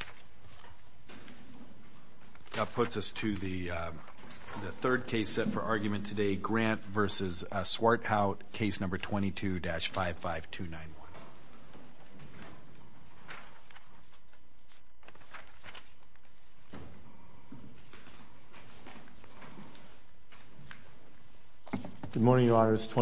Grant v. Swarthout, Case No. 22-55291 I'm going to start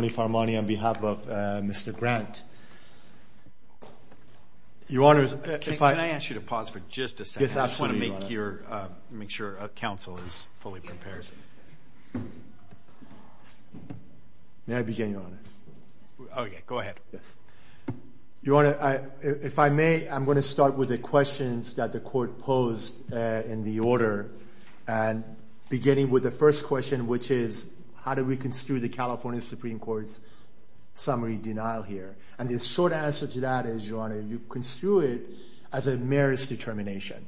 with the questions that the court posed in the order, beginning with the first question, which is how do we construe the California Supreme Court's summary denial here? And the short answer to that is, Your Honor, you construe it as a merits determination.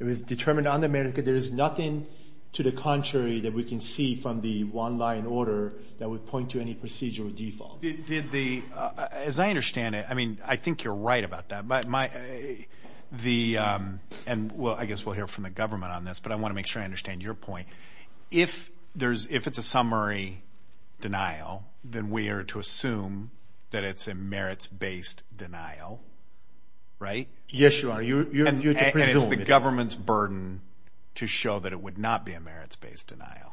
It was determined on the merits, there is nothing to the contrary that we can see from the one-line order that would point to any procedural default. As I understand it, I mean, I think you're right about that, and I guess we'll hear from the government on this, but I want to make sure I understand your point. If it's a summary denial, then we are to assume that it's a merits-based denial, right? Yes, Your Honor. And it's the government's burden to show that it would not be a merits-based denial.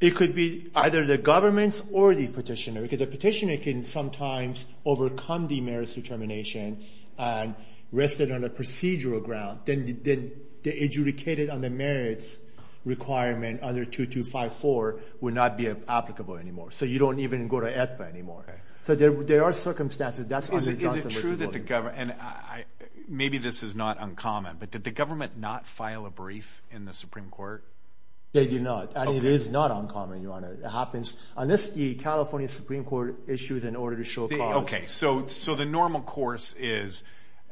It could be either the government's or the petitioner, because the petitioner can sometimes overcome the merits determination and rest it on a procedural ground, then adjudicate it on the merits requirement under 2254, would not be applicable anymore. So you don't even go to AEDPA anymore. So there are circumstances, that's under Johnson v. Williams. And maybe this is not uncommon, but did the government not file a brief in the Supreme Court? They did not, and it is not uncommon, Your Honor. It happens. Unless the California Supreme Court issues an order to show cause. Okay. So the normal course is,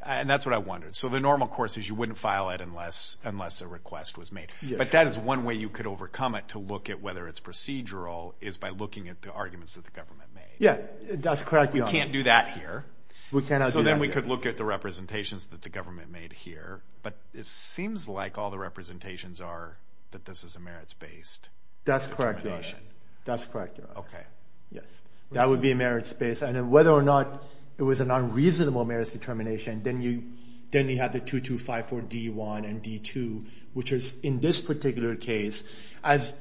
and that's what I wondered, so the normal course is you wouldn't file it unless a request was made. But that is one way you could overcome it, to look at whether it's procedural, is by looking at the arguments that the government made. Yeah, that's correct, Your Honor. You can't do that here. We cannot do that here. So then we could look at the representations that the government made here, but it seems like all the representations are that this is a merits-based determination. That's correct, Your Honor. That's correct, Your Honor. Okay. Yes. That would be a merits-based. And whether or not it was an unreasonable merits determination, then you have the 2254 D-1 and D-2, which is, in this particular case, as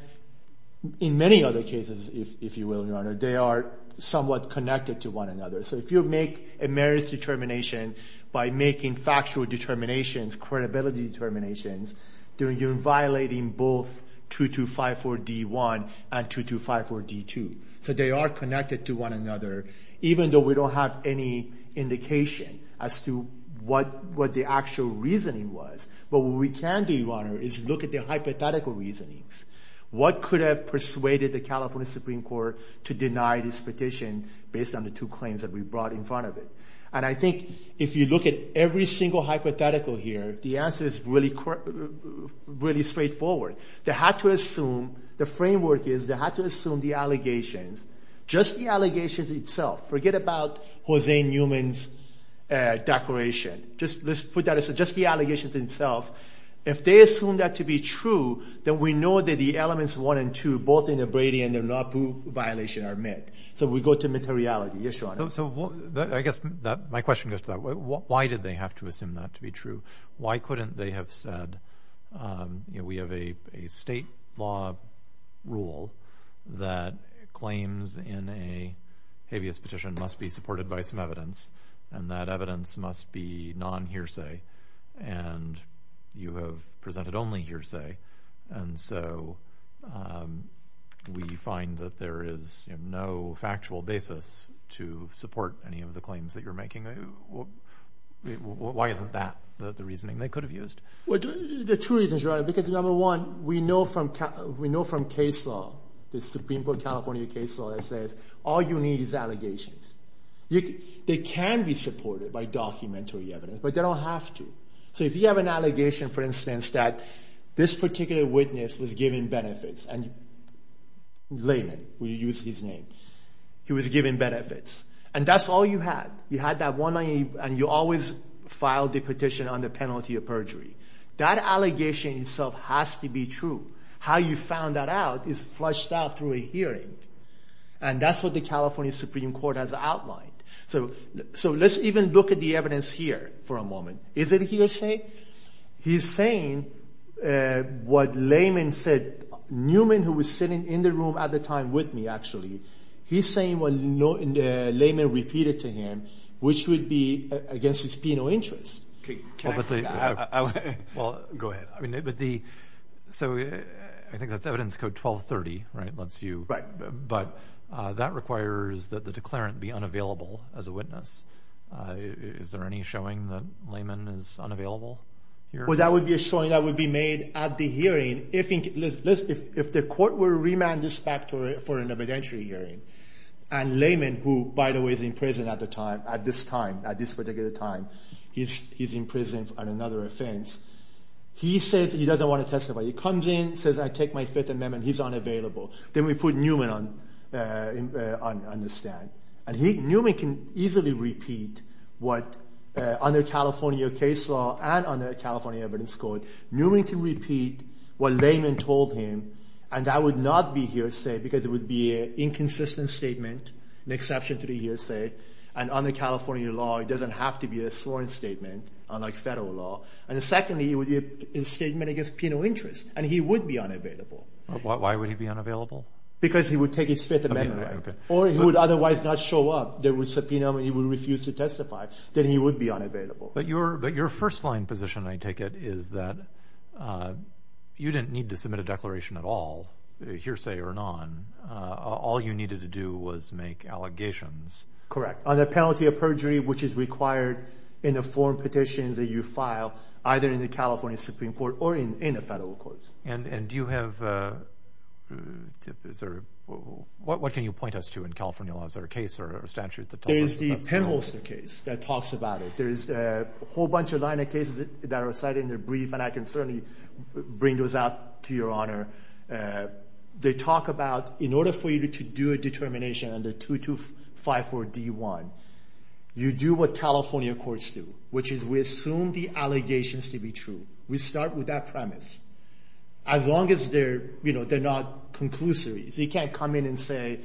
in many other cases, if you will, Your Honor, they are somewhat connected to one another. So if you make a merits determination by making factual determinations, credibility determinations, you're violating both 2254 D-1 and 2254 D-2. So they are connected to one another, even though we don't have any indication as to what the actual reasoning was. But what we can do, Your Honor, is look at the hypothetical reasonings. What could have persuaded the California Supreme Court to deny this petition based on the two claims that we brought in front of it? And I think if you look at every single hypothetical here, the answer is really straightforward. They had to assume, the framework is they had to assume the allegations, just the allegations itself. Forget about Hosein Newman's declaration. Let's put that aside. Just the allegations themselves. If they assume that to be true, then we know that the Elements 1 and 2, both in the Brady and the Naboo violation, are met. So we go to materiality. Yes, Your Honor. So I guess my question goes to that. Why did they have to assume that to be true? Why couldn't they have said, you know, we have a state law rule that claims in a habeas petition must be supported by some evidence, and that evidence must be non-hearsay, and you have presented only hearsay. And so we find that there is no factual basis to support any of the claims that you're making. Why isn't that the reasoning they could have used? Well, there are two reasons, Your Honor, because number one, we know from case law, the Supreme Court of California case law that says all you need is allegations. They can be supported by documentary evidence, but they don't have to. So if you have an allegation, for instance, that this particular witness was giving benefits, and Lehman, we use his name, he was giving benefits, and that's all you had. You had that one line, and you always filed the petition under penalty of perjury. That allegation itself has to be true. How you found that out is fleshed out through a hearing, and that's what the California Supreme Court has outlined. So let's even look at the evidence here for a moment. Is it hearsay? He's saying what Lehman said. Newman, who was sitting in the room at the time with me, actually, he's saying what Lehman repeated to him, which would be against his penal interest. Well, go ahead. So I think that's evidence code 1230, but that requires that the declarant be unavailable as a witness. Is there any showing that Lehman is unavailable here? Well, that would be a showing that would be made at the hearing. If the court were to remand this back for an evidentiary hearing, and Lehman, who, by the way, is in prison at this particular time, he's in prison on another offense, he says he doesn't want to testify. He comes in, says, I take my Fifth Amendment. He's unavailable. Then we put Newman on the stand, and Newman can easily repeat what, under California case law and under California evidence code, Newman can repeat what Lehman told him, and that would not be hearsay, because it would be an inconsistent statement, an exception to the hearsay, and under California law, it doesn't have to be a sworn statement, unlike federal law. And secondly, it would be a statement against penal interest, and he would be unavailable. Why would he be unavailable? Because he would take his Fifth Amendment, or he would otherwise not show up. There was subpoena, and he would refuse to testify, then he would be unavailable. But your first-line position, I take it, is that you didn't need to submit a declaration at all, hearsay or none. All you needed to do was make allegations. Correct. On the penalty of perjury, which is required in the form petitions that you file, either in the California Supreme Court or in the federal courts. And do you have, is there, what can you point us to in California law? Is there a case or a statute that tells us about this? There's the Penholster case that talks about it. There's a whole bunch of line of cases that are cited in the brief, and I can certainly bring those out to your honor. They talk about, in order for you to do a determination under 2254 D1, you do what California courts do, which is we assume the allegations to be true. We start with that premise. As long as they're, you know, they're not conclusory. So you can't come in and say,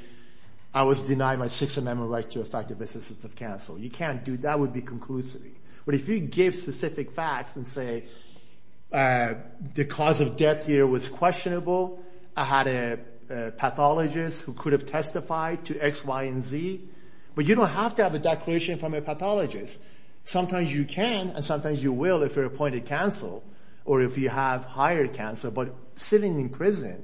I was denied my Sixth Amendment right to effective assistance of counsel. You can't do that. That would be conclusory. But if you give specific facts and say, the cause of death here was questionable, I had a pathologist who could have testified to X, Y, and Z, but you don't have to have a declaration from a pathologist. Sometimes you can, and sometimes you will if you're appointed counsel, or if you have hired counsel. But sitting in prison,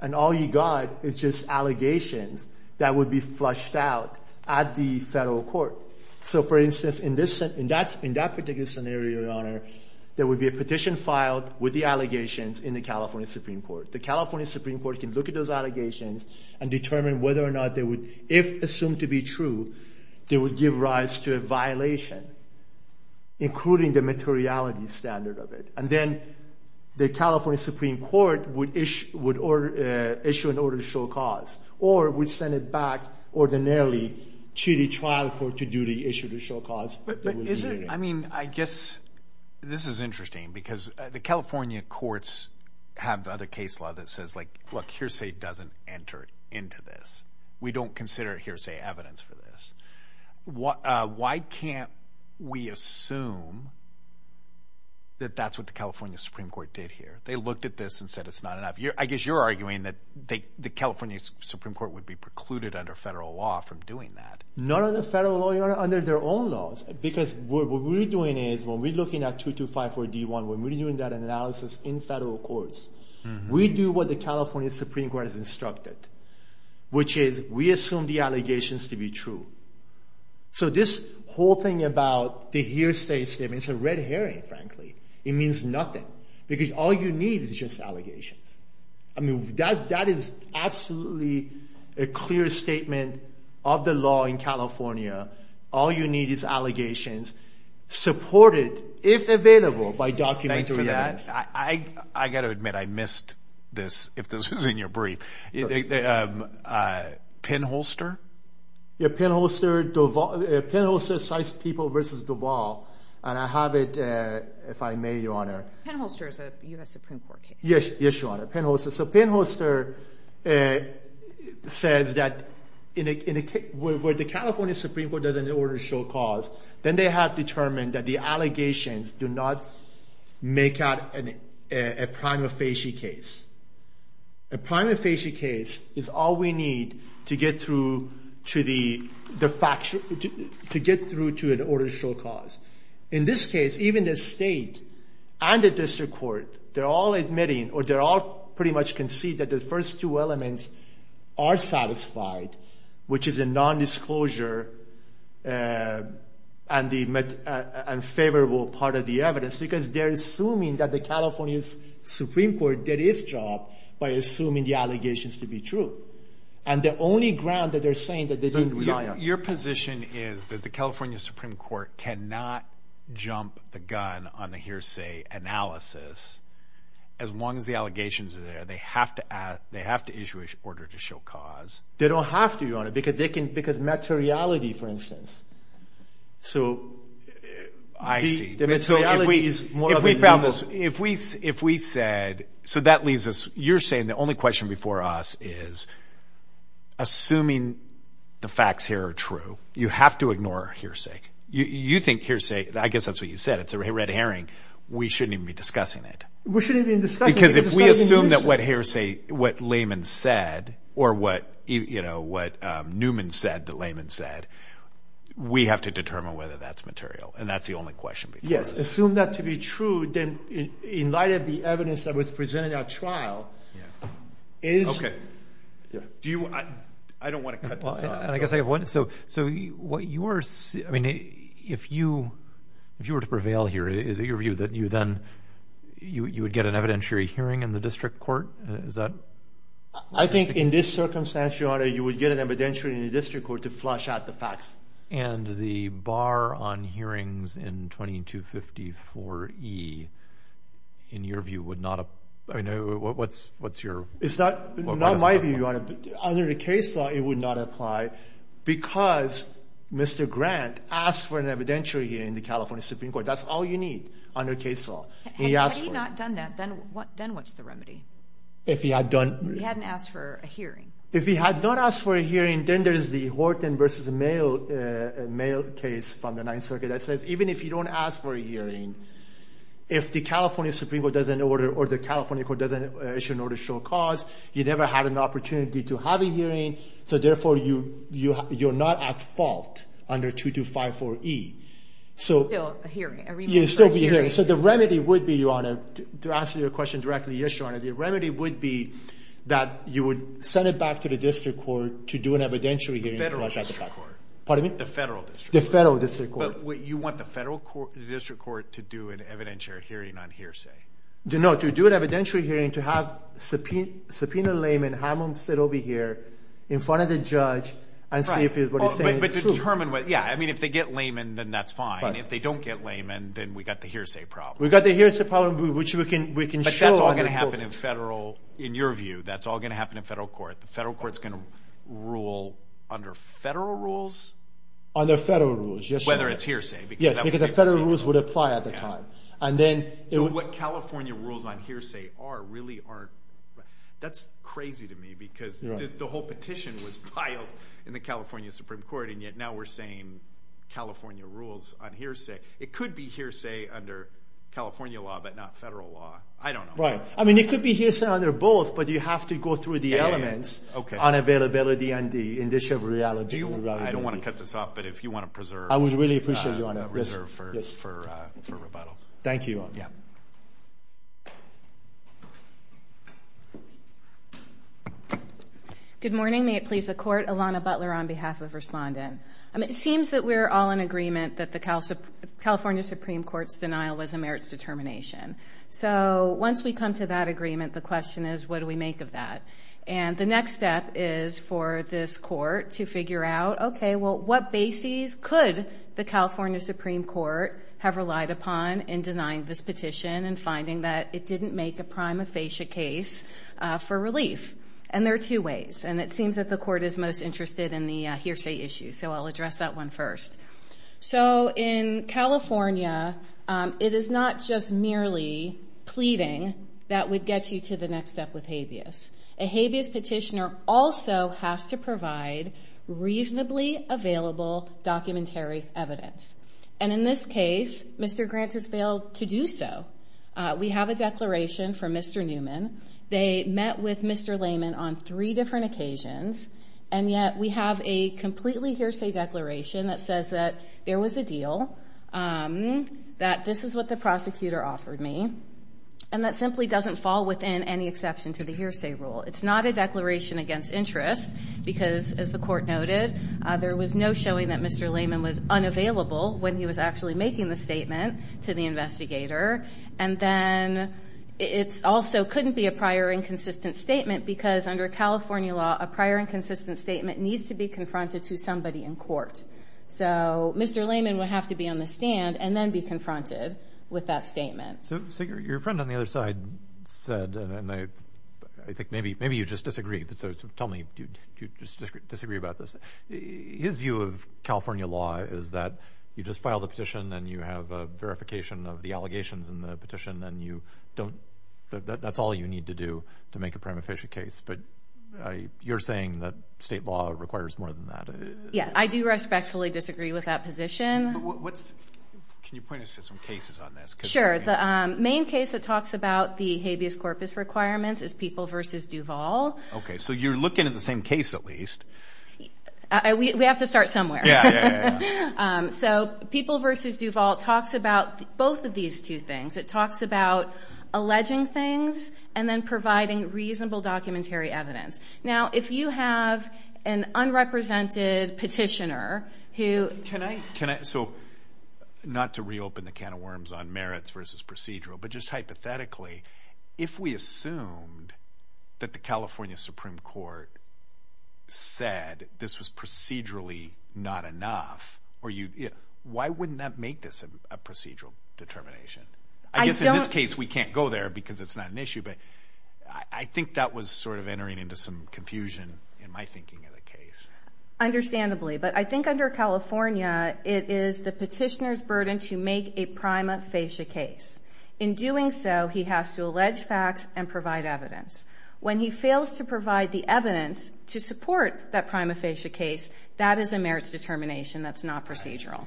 and all you got is just allegations that would be flushed out at the federal court. So for instance, in that particular scenario, your honor, there would be a petition filed with the allegations in the California Supreme Court. The California Supreme Court can look at those allegations and determine whether or not they would, if assumed to be true, they would give rise to a violation, including the materiality standard of it. And then the California Supreme Court would issue an order to show cause, or would send it back ordinarily to the trial court to do the issue, to show cause. I mean, I guess this is interesting, because the California courts have other case law that says like, look, hearsay doesn't enter into this. We don't consider hearsay evidence for this. Why can't we assume that that's what the California Supreme Court did here? They looked at this and said it's not enough. I guess you're arguing that the California Supreme Court would be precluded under federal law from doing that. Not under federal law, under their own laws. Because what we're doing is, when we're looking at 2254-D1, when we're doing that analysis in federal courts, we do what the California Supreme Court has instructed, which is we assume the allegations to be true. So this whole thing about the hearsay statement, it's a red herring, frankly. It means nothing, because all you need is just allegations. That is absolutely a clear statement of the law in California. All you need is allegations, supported, if available, by documentary evidence. I got to admit, I missed this, if this was in your brief. Pinholster? Yeah, Pinholster. Pinholster cites people versus Duval. And I have it, if I may, Your Honor. Pinholster is a U.S. Supreme Court case. Yes, Your Honor. Pinholster. So Pinholster says that, where the California Supreme Court doesn't order show cause, then they have determined that the allegations do not make out a prima facie case. A prima facie case is all we need to get through to an order show cause. In this case, even the state and the district court, they're all admitting, or they're all pretty much concede that the first two elements are satisfied, which is a nondisclosure and favorable part of the evidence, because they're assuming that the California Supreme Court, did its job by assuming the allegations to be true. And the only ground that they're saying that they didn't rely on. Your position is that the California Supreme Court cannot jump the gun on the hearsay analysis, as long as the allegations are there. They have to issue an order to show cause. They don't have to, Your Honor, because they can, because materiality, for instance. So the materiality is more of a nuisance. Because if we said, so that leaves us, you're saying the only question before us is, assuming the facts here are true, you have to ignore hearsay. You think hearsay, I guess that's what you said, it's a red herring. We shouldn't even be discussing it. We shouldn't even be discussing it. Because if we assume that what layman said, or what Newman said that layman said, we have to determine whether that's material. And that's the only question before us. Assume that to be true, then in light of the evidence that was presented at trial, is. Yeah. Do you, I don't want to cut this off. And I guess I have one, so what you are, I mean, if you were to prevail here, is it your view that you then, you would get an evidentiary hearing in the district court? Is that? I think in this circumstance, Your Honor, you would get an evidentiary in the district court to flush out the facts. And the bar on hearings in 2254E, in your view, would not, I mean, what's your? It's not my view, Your Honor, under the case law, it would not apply because Mr. Grant asked for an evidentiary hearing in the California Supreme Court. That's all you need under case law. Had he not done that, then what's the remedy? If he had done. He hadn't asked for a hearing. If he had not asked for a hearing, then there's the Horton v. Mail case from the Ninth Circuit that says even if you don't ask for a hearing, if the California Supreme Court doesn't order or the California Court doesn't issue an order to show cause, you never had an opportunity to have a hearing. So therefore, you're not at fault under 2254E. So still a hearing. A remand for a hearing. You'd still be hearing. So the remedy would be, Your Honor, to answer your question directly, yes, Your Honor, the remedy would be that you would send it back to the district court to do an evidentiary hearing. The federal district court. Pardon me? The federal district court. The federal district court. But you want the federal district court to do an evidentiary hearing on hearsay. No, to do an evidentiary hearing, to have a subpoenaed layman, have him sit over here in front of the judge and see if what he's saying is true. But determine, yeah, I mean if they get layman, then that's fine. If they don't get layman, then we've got the hearsay problem. We've got the hearsay problem, which we can show under court. But that's all going to happen in federal, in your view, that's all going to happen in federal court. The federal court's going to rule under federal rules? Under federal rules, yes, Your Honor. Whether it's hearsay. Yes, because the federal rules would apply at the time. And then- So what California rules on hearsay are really are, that's crazy to me because the whole petition was filed in the California Supreme Court, and yet now we're saying California rules on hearsay. It could be hearsay under California law, but not federal law. I don't know. Right. I mean, it could be hearsay under both, but you have to go through the elements on availability and the initial reality. I don't want to cut this off, but if you want to preserve- I would really appreciate it, Your Honor. Reserve for rebuttal. Thank you. Yeah. Good morning. May it please the court. Alana Butler on behalf of Respondent. It seems that we're all in agreement that the California Supreme Court's denial was a merits determination. So, once we come to that agreement, the question is, what do we make of that? And the next step is for this court to figure out, okay, well, what bases could the California Supreme Court have relied upon in denying this petition and finding that it didn't make a prima facie case for relief? And there are two ways. And it seems that the court is most interested in the hearsay issue, so I'll address that one first. So, in California, it is not just merely pleading that would get you to the next step with habeas. A habeas petitioner also has to provide reasonably available documentary evidence. And in this case, Mr. Grant has failed to do so. We have a declaration from Mr. Newman. They met with Mr. Layman on three different occasions, and yet we have a completely hearsay declaration that says that there was a deal, that this is what the prosecutor offered me, and that simply doesn't fall within any exception to the hearsay rule. It's not a declaration against interest because, as the court noted, there was no showing that Mr. Layman was unavailable when he was actually making the statement to the investigator. And then it also couldn't be a prior inconsistent statement because under California law, a prior inconsistent statement needs to be confronted to somebody in court. So Mr. Layman would have to be on the stand and then be confronted with that statement. So, Sigur, your friend on the other side said, and I think maybe you just disagree, so tell me, do you disagree about this, his view of California law is that you just file the petition and you have a verification of the allegations in the petition, and you don't, that's all you need to do to make a prima facie case. But you're saying that state law requires more than that. Yes, I do respectfully disagree with that position. Can you point us to some cases on this? Sure. The main case that talks about the habeas corpus requirements is People v. Duval. Okay, so you're looking at the same case at least. We have to start somewhere. So People v. Duval talks about both of these two things. It talks about alleging things and then providing reasonable documentary evidence. Now, if you have an unrepresented petitioner who... Can I, so not to reopen the can of worms on merits versus procedural, but just hypothetically, if we assumed that the California Supreme Court said this was procedurally not enough, why wouldn't that make this a procedural determination? I guess in this case, we can't go there because it's not an issue, but I think that was sort of entering into some confusion in my thinking of the case. Understandably, but I think under California, it is the petitioner's burden to make a prima facie case. In doing so, he has to allege facts and provide evidence. When he fails to provide the evidence to support that prima facie case, that is a merits determination. That's not procedural.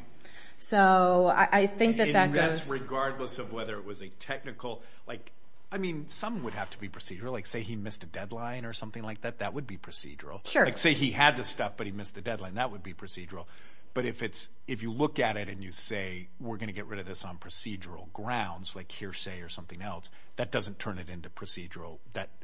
So I think that that goes- In events, regardless of whether it was a technical, like, I mean, some would have to be procedural. Like say he missed a deadline or something like that, that would be procedural. Sure. Like say he had the stuff, but he missed the deadline, that would be procedural. But if you look at it and you say, we're going to get rid of this on procedural grounds, like hearsay or something else, that doesn't turn it into procedural.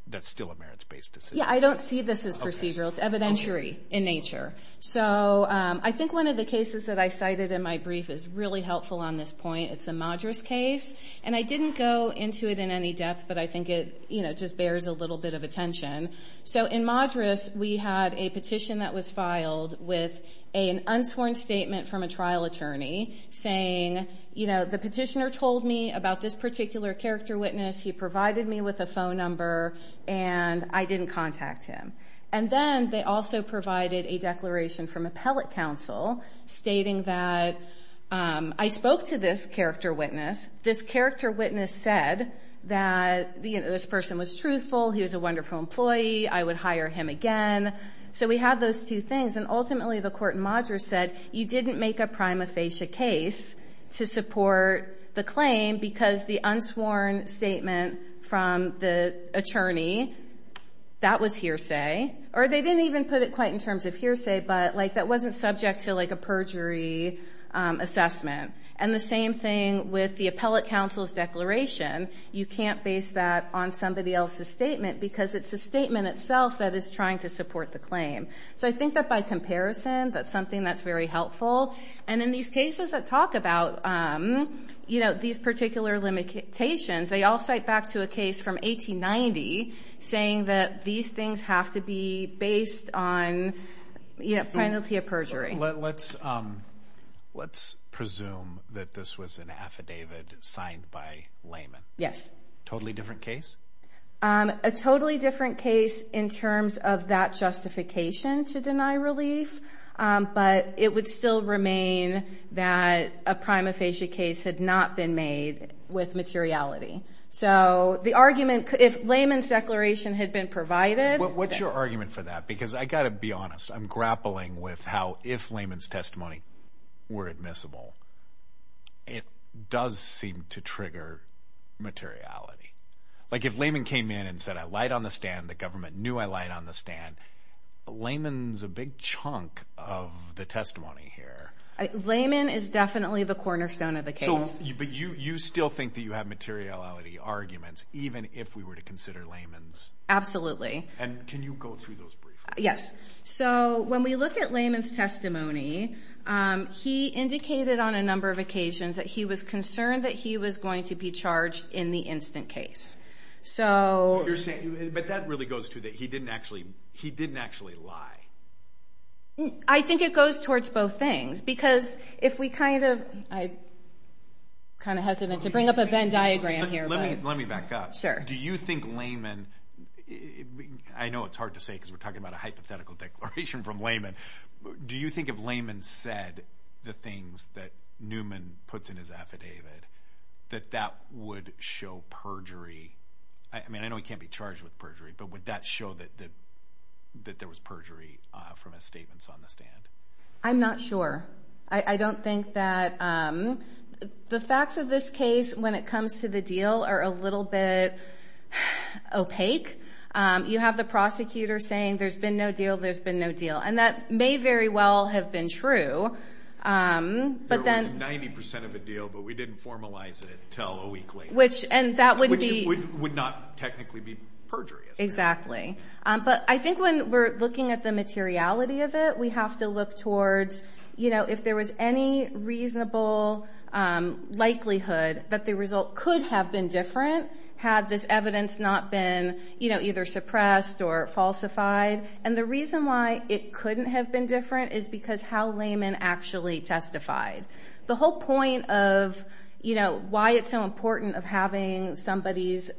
That's still a merits-based decision. Yeah. I don't see this as procedural. It's evidentiary in nature. So I think one of the cases that I cited in my brief is really helpful on this point. It's a Madras case. And I didn't go into it in any depth, but I think it just bears a little bit of attention. So in Madras, we had a petition that was filed with an unsworn statement from a trial attorney saying, you know, the petitioner told me about this particular character witness. He provided me with a phone number, and I didn't contact him. And then they also provided a declaration from appellate counsel stating that I spoke to this character witness. This character witness said that this person was truthful, he was a wonderful employee, I would hire him again. So we have those two things. And ultimately, the court in Madras said, you didn't make a prima facie case to support the claim because the unsworn statement from the attorney, that was hearsay. Or they didn't even put it quite in terms of hearsay, but like that wasn't subject to like a perjury assessment. And the same thing with the appellate counsel's declaration. You can't base that on somebody else's statement because it's a statement itself that is trying to support the claim. So I think that by comparison, that's something that's very helpful. And in these cases that talk about these particular limitations, they all cite back to a case from 1890, saying that these things have to be based on penalty of perjury. Let's presume that this was an affidavit signed by layman. Yes. Totally different case? A totally different case in terms of that justification to deny relief. But it would still remain that a prima facie case had not been made with materiality. So the argument, if layman's declaration had been provided. What's your argument for that? Because I got to be honest, I'm grappling with how if layman's testimony were admissible, it does seem to trigger materiality. Like if layman came in and said, I lied on the stand, the government knew I lied on the stand, layman's a big chunk of the testimony here. Layman is definitely the cornerstone of the case. So, but you still think that you have materiality arguments, even if we were to consider layman's? Absolutely. And can you go through those briefly? Yes. So when we look at layman's testimony, he indicated on a number of occasions that he was concerned that he was going to be charged in the instant case. So you're saying, but that really goes to that. He didn't actually, he didn't actually lie. I think it goes towards both things because if we kind of, I kind of hesitant to bring up a Venn diagram here. Let me back up. Sure. Do you think layman, I know it's hard to say because we're talking about a hypothetical declaration from layman. Do you think if layman said the things that Newman puts in his affidavit, that that would show perjury? I mean, I know he can't be charged with perjury, but would that show that there was perjury from his statements on the stand? I'm not sure. I don't think that, the facts of this case when it comes to the deal are a little bit opaque. You have the prosecutor saying, there's been no deal, there's been no deal. And that may very well have been true, but then- There was 90% of a deal, but we didn't formalize it until a week later. Which would not technically be perjury. Exactly. But I think when we're looking at the materiality of it, we have to look towards if there was any reasonable likelihood that the result could have been different had this evidence not been either suppressed or falsified. And the reason why it couldn't have been different is because how layman actually testified. The whole point of why it's so important of having somebody's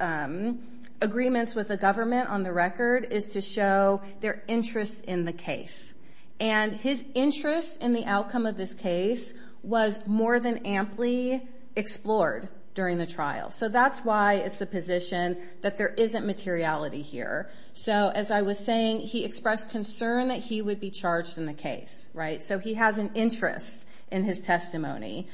agreements with the government on the record is to show their interest in the case. And his interest in the outcome of this case was more than amply explored during the trial. So that's why it's a position that there isn't materiality here. So as I was saying, he expressed concern that he would be charged in the case, right? So he has an interest in his testimony.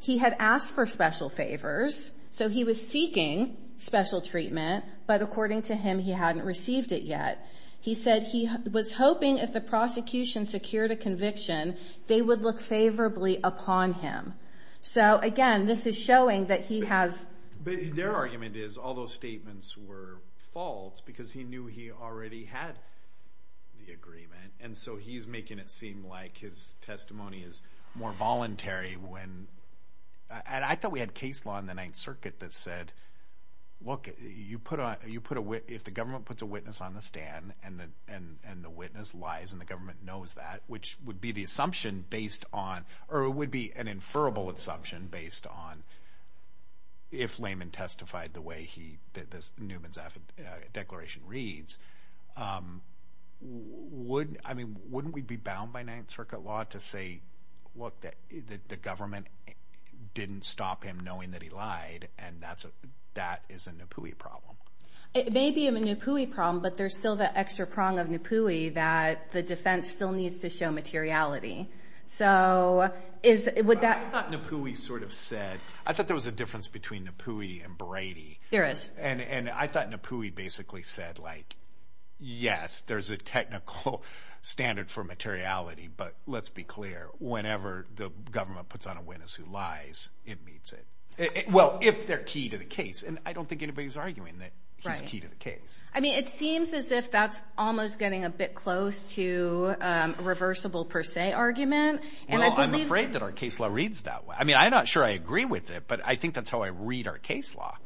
He had asked for special favors. So he was seeking special treatment, but according to him, he hadn't received it yet. He said he was hoping if the prosecution secured a conviction, they would look favorably upon him. So again, this is showing that he has- Their argument is all those statements were false because he knew he already had the agreement. And so he's making it seem like his testimony is more voluntary when- I thought we had case law in the Ninth Circuit that said, look, if the government puts a witness on the stand and the witness lies and the government knows that, which would be the assumption based on- or it would be an inferable assumption based on if layman testified the way that Newman's declaration reads, wouldn't we be bound by Ninth Circuit law to say, look, that the government didn't stop him knowing that he lied and that is a Napoui problem? It may be a Napoui problem, but there's still that extra prong of Napoui that the defense still needs to show materiality. So is- I thought Napoui sort of said- I thought there was a difference between Napoui and Brady. There is. And I thought Napoui basically said, like, yes, there's a technical standard for materiality, but let's be clear, whenever the government puts on a witness who lies, it meets it. Well, if they're key to the case. And I don't think anybody's arguing that he's key to the case. I mean, it seems as if that's almost getting a bit close to a reversible per se argument. Well, I'm afraid that our case law reads that way. I mean, I'm not sure I agree with it, but I think that's how I read our case law.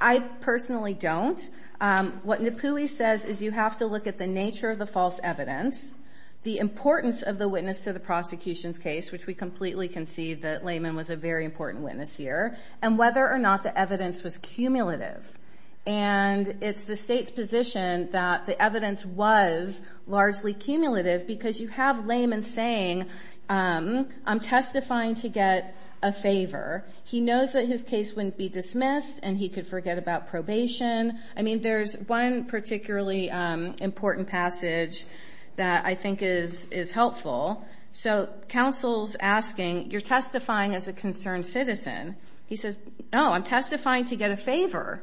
I personally don't. What Napoui says is you have to look at the nature of the false evidence, the importance of the witness to the prosecution's case, which we completely concede that Lehman was a very important witness here, and whether or not the evidence was cumulative. And it's the state's position that the evidence was largely cumulative because you have Lehman saying, I'm testifying to get a favor. He knows that his case wouldn't be dismissed and he could forget about probation. I mean, there's one particularly important passage that I think is helpful. So counsel's asking, you're testifying as a concerned citizen. He says, no, I'm testifying to get a favor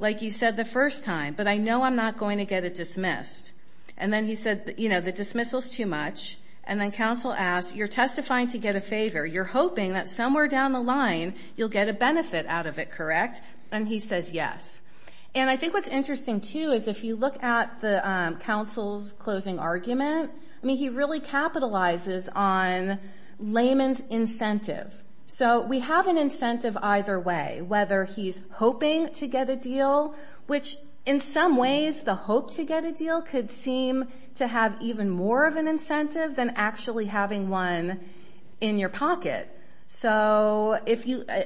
like you said the first time, but I know I'm not going to get it dismissed. And then he said, you know, the dismissal's too much. And then counsel asks, you're testifying to get a favor. You're hoping that somewhere down the line you'll get a benefit out of it, correct? And he says, yes. And I think what's interesting too is if you look at the counsel's closing argument, I mean, he really capitalizes on Lehman's incentive. So we have an incentive either way, whether he's hoping to get a deal, which in some ways the hope to get a deal could seem to have even more of an incentive than actually having one in your pocket. So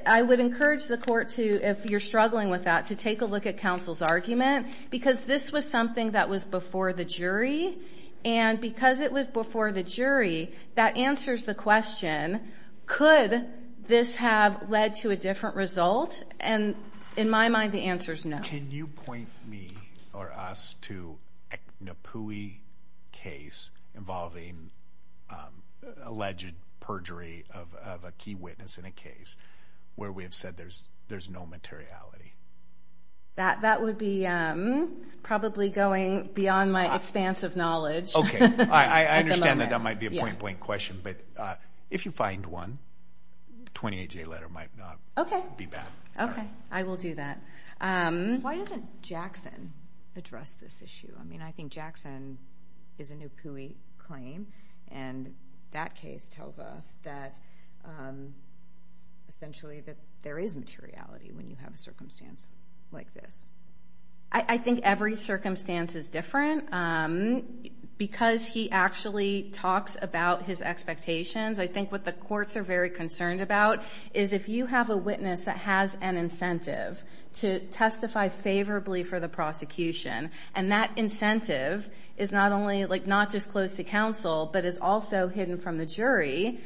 I would encourage the court to, if you're struggling with that, to take a look at counsel's argument because this was something that was before the jury. And because it was before the jury, that answers the question, could this have led to a different result? And in my mind, the answer is no. Can you point me or us to a NAPUI case involving alleged perjury of a key witness in a case where we have said there's no materiality? That would be probably going beyond my expanse of knowledge. Okay. I understand that that might be a point blank question. But if you find one, 28 day letter might not be bad. Okay. I will do that. Why doesn't Jackson address this issue? I mean, I think Jackson is a NAPUI claim and that case tells us that essentially that there is materiality when you have a circumstance like this. I think every circumstance is different because he actually talks about his expectations. I think what the courts are very concerned about is if you have a witness that has an incentive to testify favorably for the prosecution, and that incentive is not just close to counsel, but is also hidden from the jury,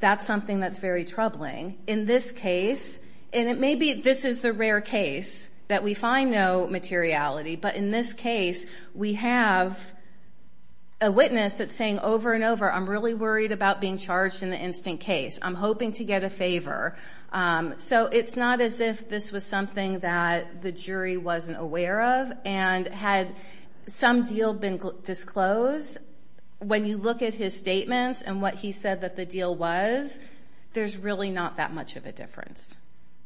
that's something that's very troubling. In this case, and it may be this is the rare case that we find no materiality, but in this case, we have a witness that's saying over and over, I'm really worried about being charged in the instant case. I'm hoping to get a favor. So it's not as if this was something that the jury wasn't aware of. And had some deal been disclosed, when you look at his statements and what he said that the deal was, there's really not that much of a difference.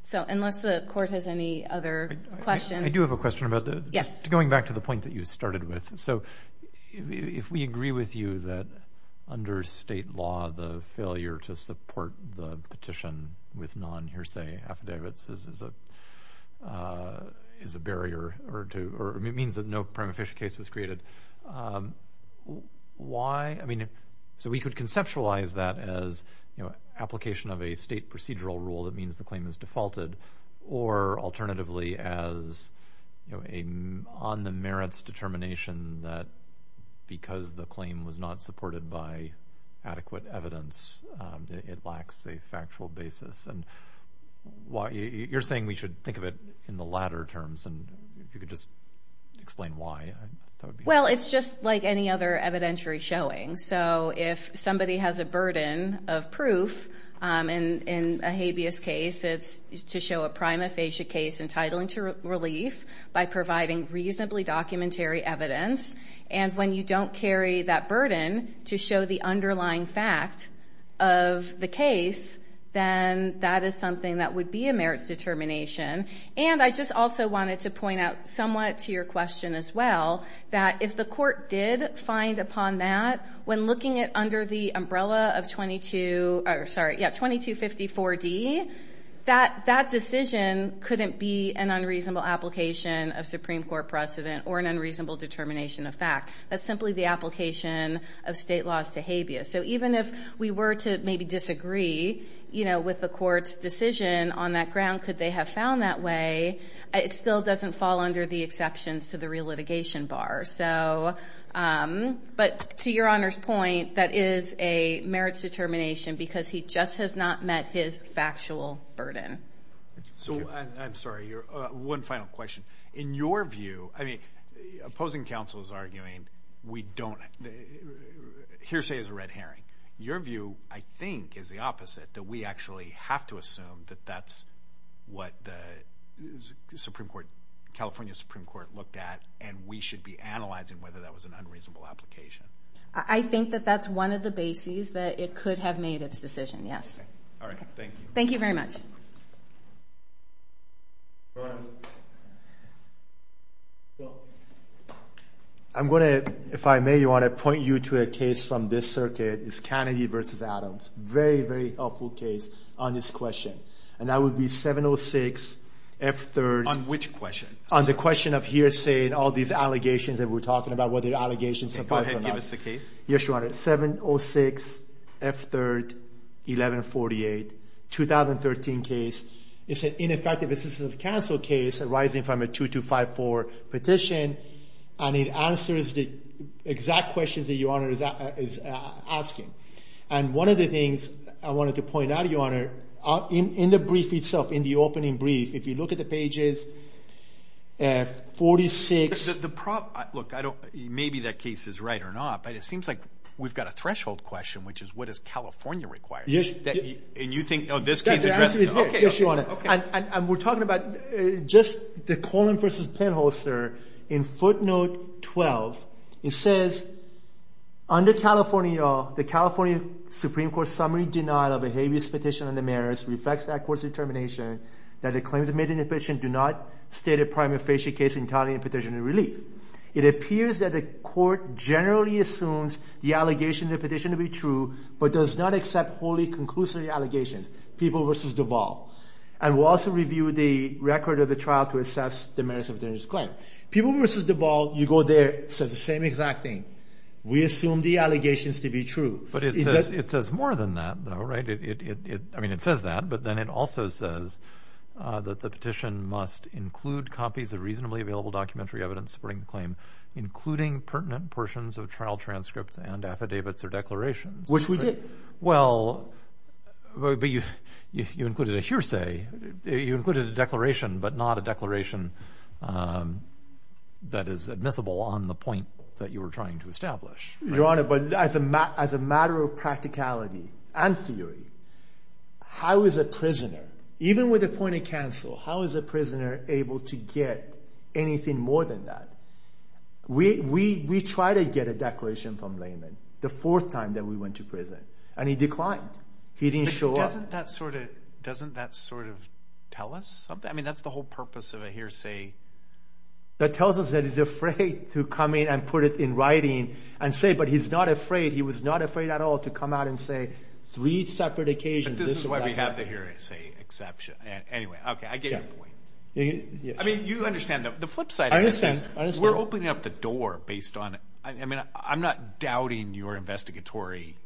So unless the court has any other questions. I do have a question about that. Yes. Going back to the point that you started with. So if we agree with you that under state law, the failure to support the petition with non-hearsay affidavits is a barrier or means that no prima facie case was created. Why? So we could conceptualize that as application of a state procedural rule that means the claim is defaulted, or alternatively as on the merits determination that because the claim was not supported by adequate evidence, it lacks a factual basis. And you're saying we should think of it in the latter terms. And if you could just explain why. Well, it's just like any other evidentiary showing. So if somebody has a burden of proof in a habeas case, it's to show a prima facie case entitling to relief by providing reasonably documentary evidence. And when you don't carry that burden to show the underlying fact of the case, then that is something that would be a merits determination. And I just also wanted to point out somewhat to your question as well, that if the court did find upon that, when looking at under the umbrella of 22, sorry, yeah, 2254 D, that decision couldn't be an unreasonable application of Supreme Court precedent or an unreasonable determination of fact. That's simply the application of state laws to habeas. So even if we were to maybe disagree, you know, with the court's decision on that ground, could they have found that way? It still doesn't fall under the exceptions to the relitigation bar. So, but to your honor's point, that is a merits determination because he just has not met his factual burden. So I'm sorry, one final question. In your view, I mean, opposing counsel is arguing we don't, hearsay is a red herring. Your view, I think, is the opposite, that we actually have to assume that that's what the Supreme Court, California Supreme Court looked at, and we should be analyzing whether that was an unreasonable application. I think that that's one of the bases that it could have made its decision, yes. All right, thank you. Thank you very much. Thank you. I'm going to, if I may, I want to point you to a case from this circuit. It's Kennedy versus Adams. Very, very helpful case on this question. And that would be 706 F-3rd. On which question? On the question of hearsay and all these allegations that we're talking about, whether the allegations surprise or not. Go ahead, give us the case. Yes, your honor. 706 F-3rd, 1148, 2013 case. It's an ineffective assistance of counsel case arising from a 2254 petition. And it answers the exact questions that your honor is asking. And one of the things I wanted to point out, your honor, in the brief itself, in the opening brief, if you look at the pages, 46. The problem, look, I don't, maybe that case is right or not, but it seems like we've got a threshold question, which is, what does California require? Yes. And you think, oh, this case addresses, okay. Yes, your honor. Okay. And we're talking about just the Coleman versus Penholster in footnote 12. It says, under California, the California Supreme Court summary denial of a habeas petition on the merits reflects that court's determination that the claims made in the petition do not state a prima facie case entirely in petition and relief. It appears that the court generally assumes the allegation in the petition to be true, but does not accept wholly conclusive allegations. People versus Duvall. And we'll also review the record of the trial to assess the merits of the claim. People versus Duvall, you go there, says the same exact thing. We assume the allegations to be true. But it says more than that though, right? I mean, it says that, but then it also says that the petition must include copies of reasonably available documentary evidence supporting the claim, including pertinent portions of trial transcripts and affidavits or declarations. Which we did. Well, but you included a hearsay. You included a declaration, but not a declaration that is admissible on the point that you were trying to establish. Your honor, but as a matter of practicality and theory, how is a prisoner, even with a point of counsel, how is a prisoner able to get anything more than that? We try to get a declaration from layman the fourth time that we went to prison and he declined. He didn't show up. But doesn't that sort of tell us something? I mean, that's the whole purpose of a hearsay. That tells us that he's afraid to come in and put it in writing and say, but he's not afraid. He was not afraid at all to come out and say three separate occasions. This is why we have the hearsay exception. Anyway, okay. I get your point. I mean, you understand that the flip side of this is we're opening up the door based on it. I mean, I'm not doubting your investigatory,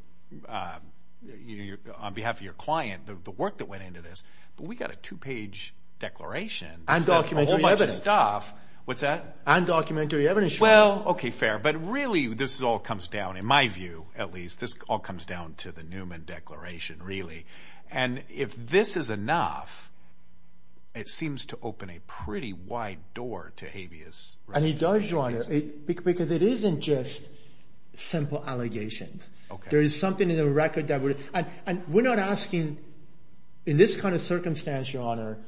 on behalf of your client, the work that went into this, but we got a two-page declaration. And documentary evidence. What's that? And documentary evidence. Well, okay. Fair. But really, this is all comes down, in my view, at least, this all comes down to the declaration, really. And if this is enough, it seems to open a pretty wide door to habeas. And it does, Your Honor, because it isn't just simple allegations. There is something in the record that would, and we're not asking, in this kind of circumstance, Your Honor.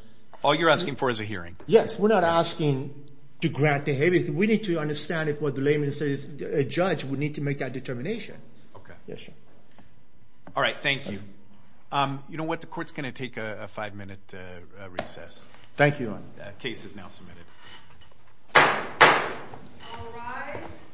All you're asking for is a hearing. Yes. We're not asking to grant the habeas. We need to understand if what the layman says, a judge would need to make that determination. Okay. Yes, sir. All right. Thank you. You know what? The court's going to take a five-minute recess. Thank you, Your Honor. Case is now submitted.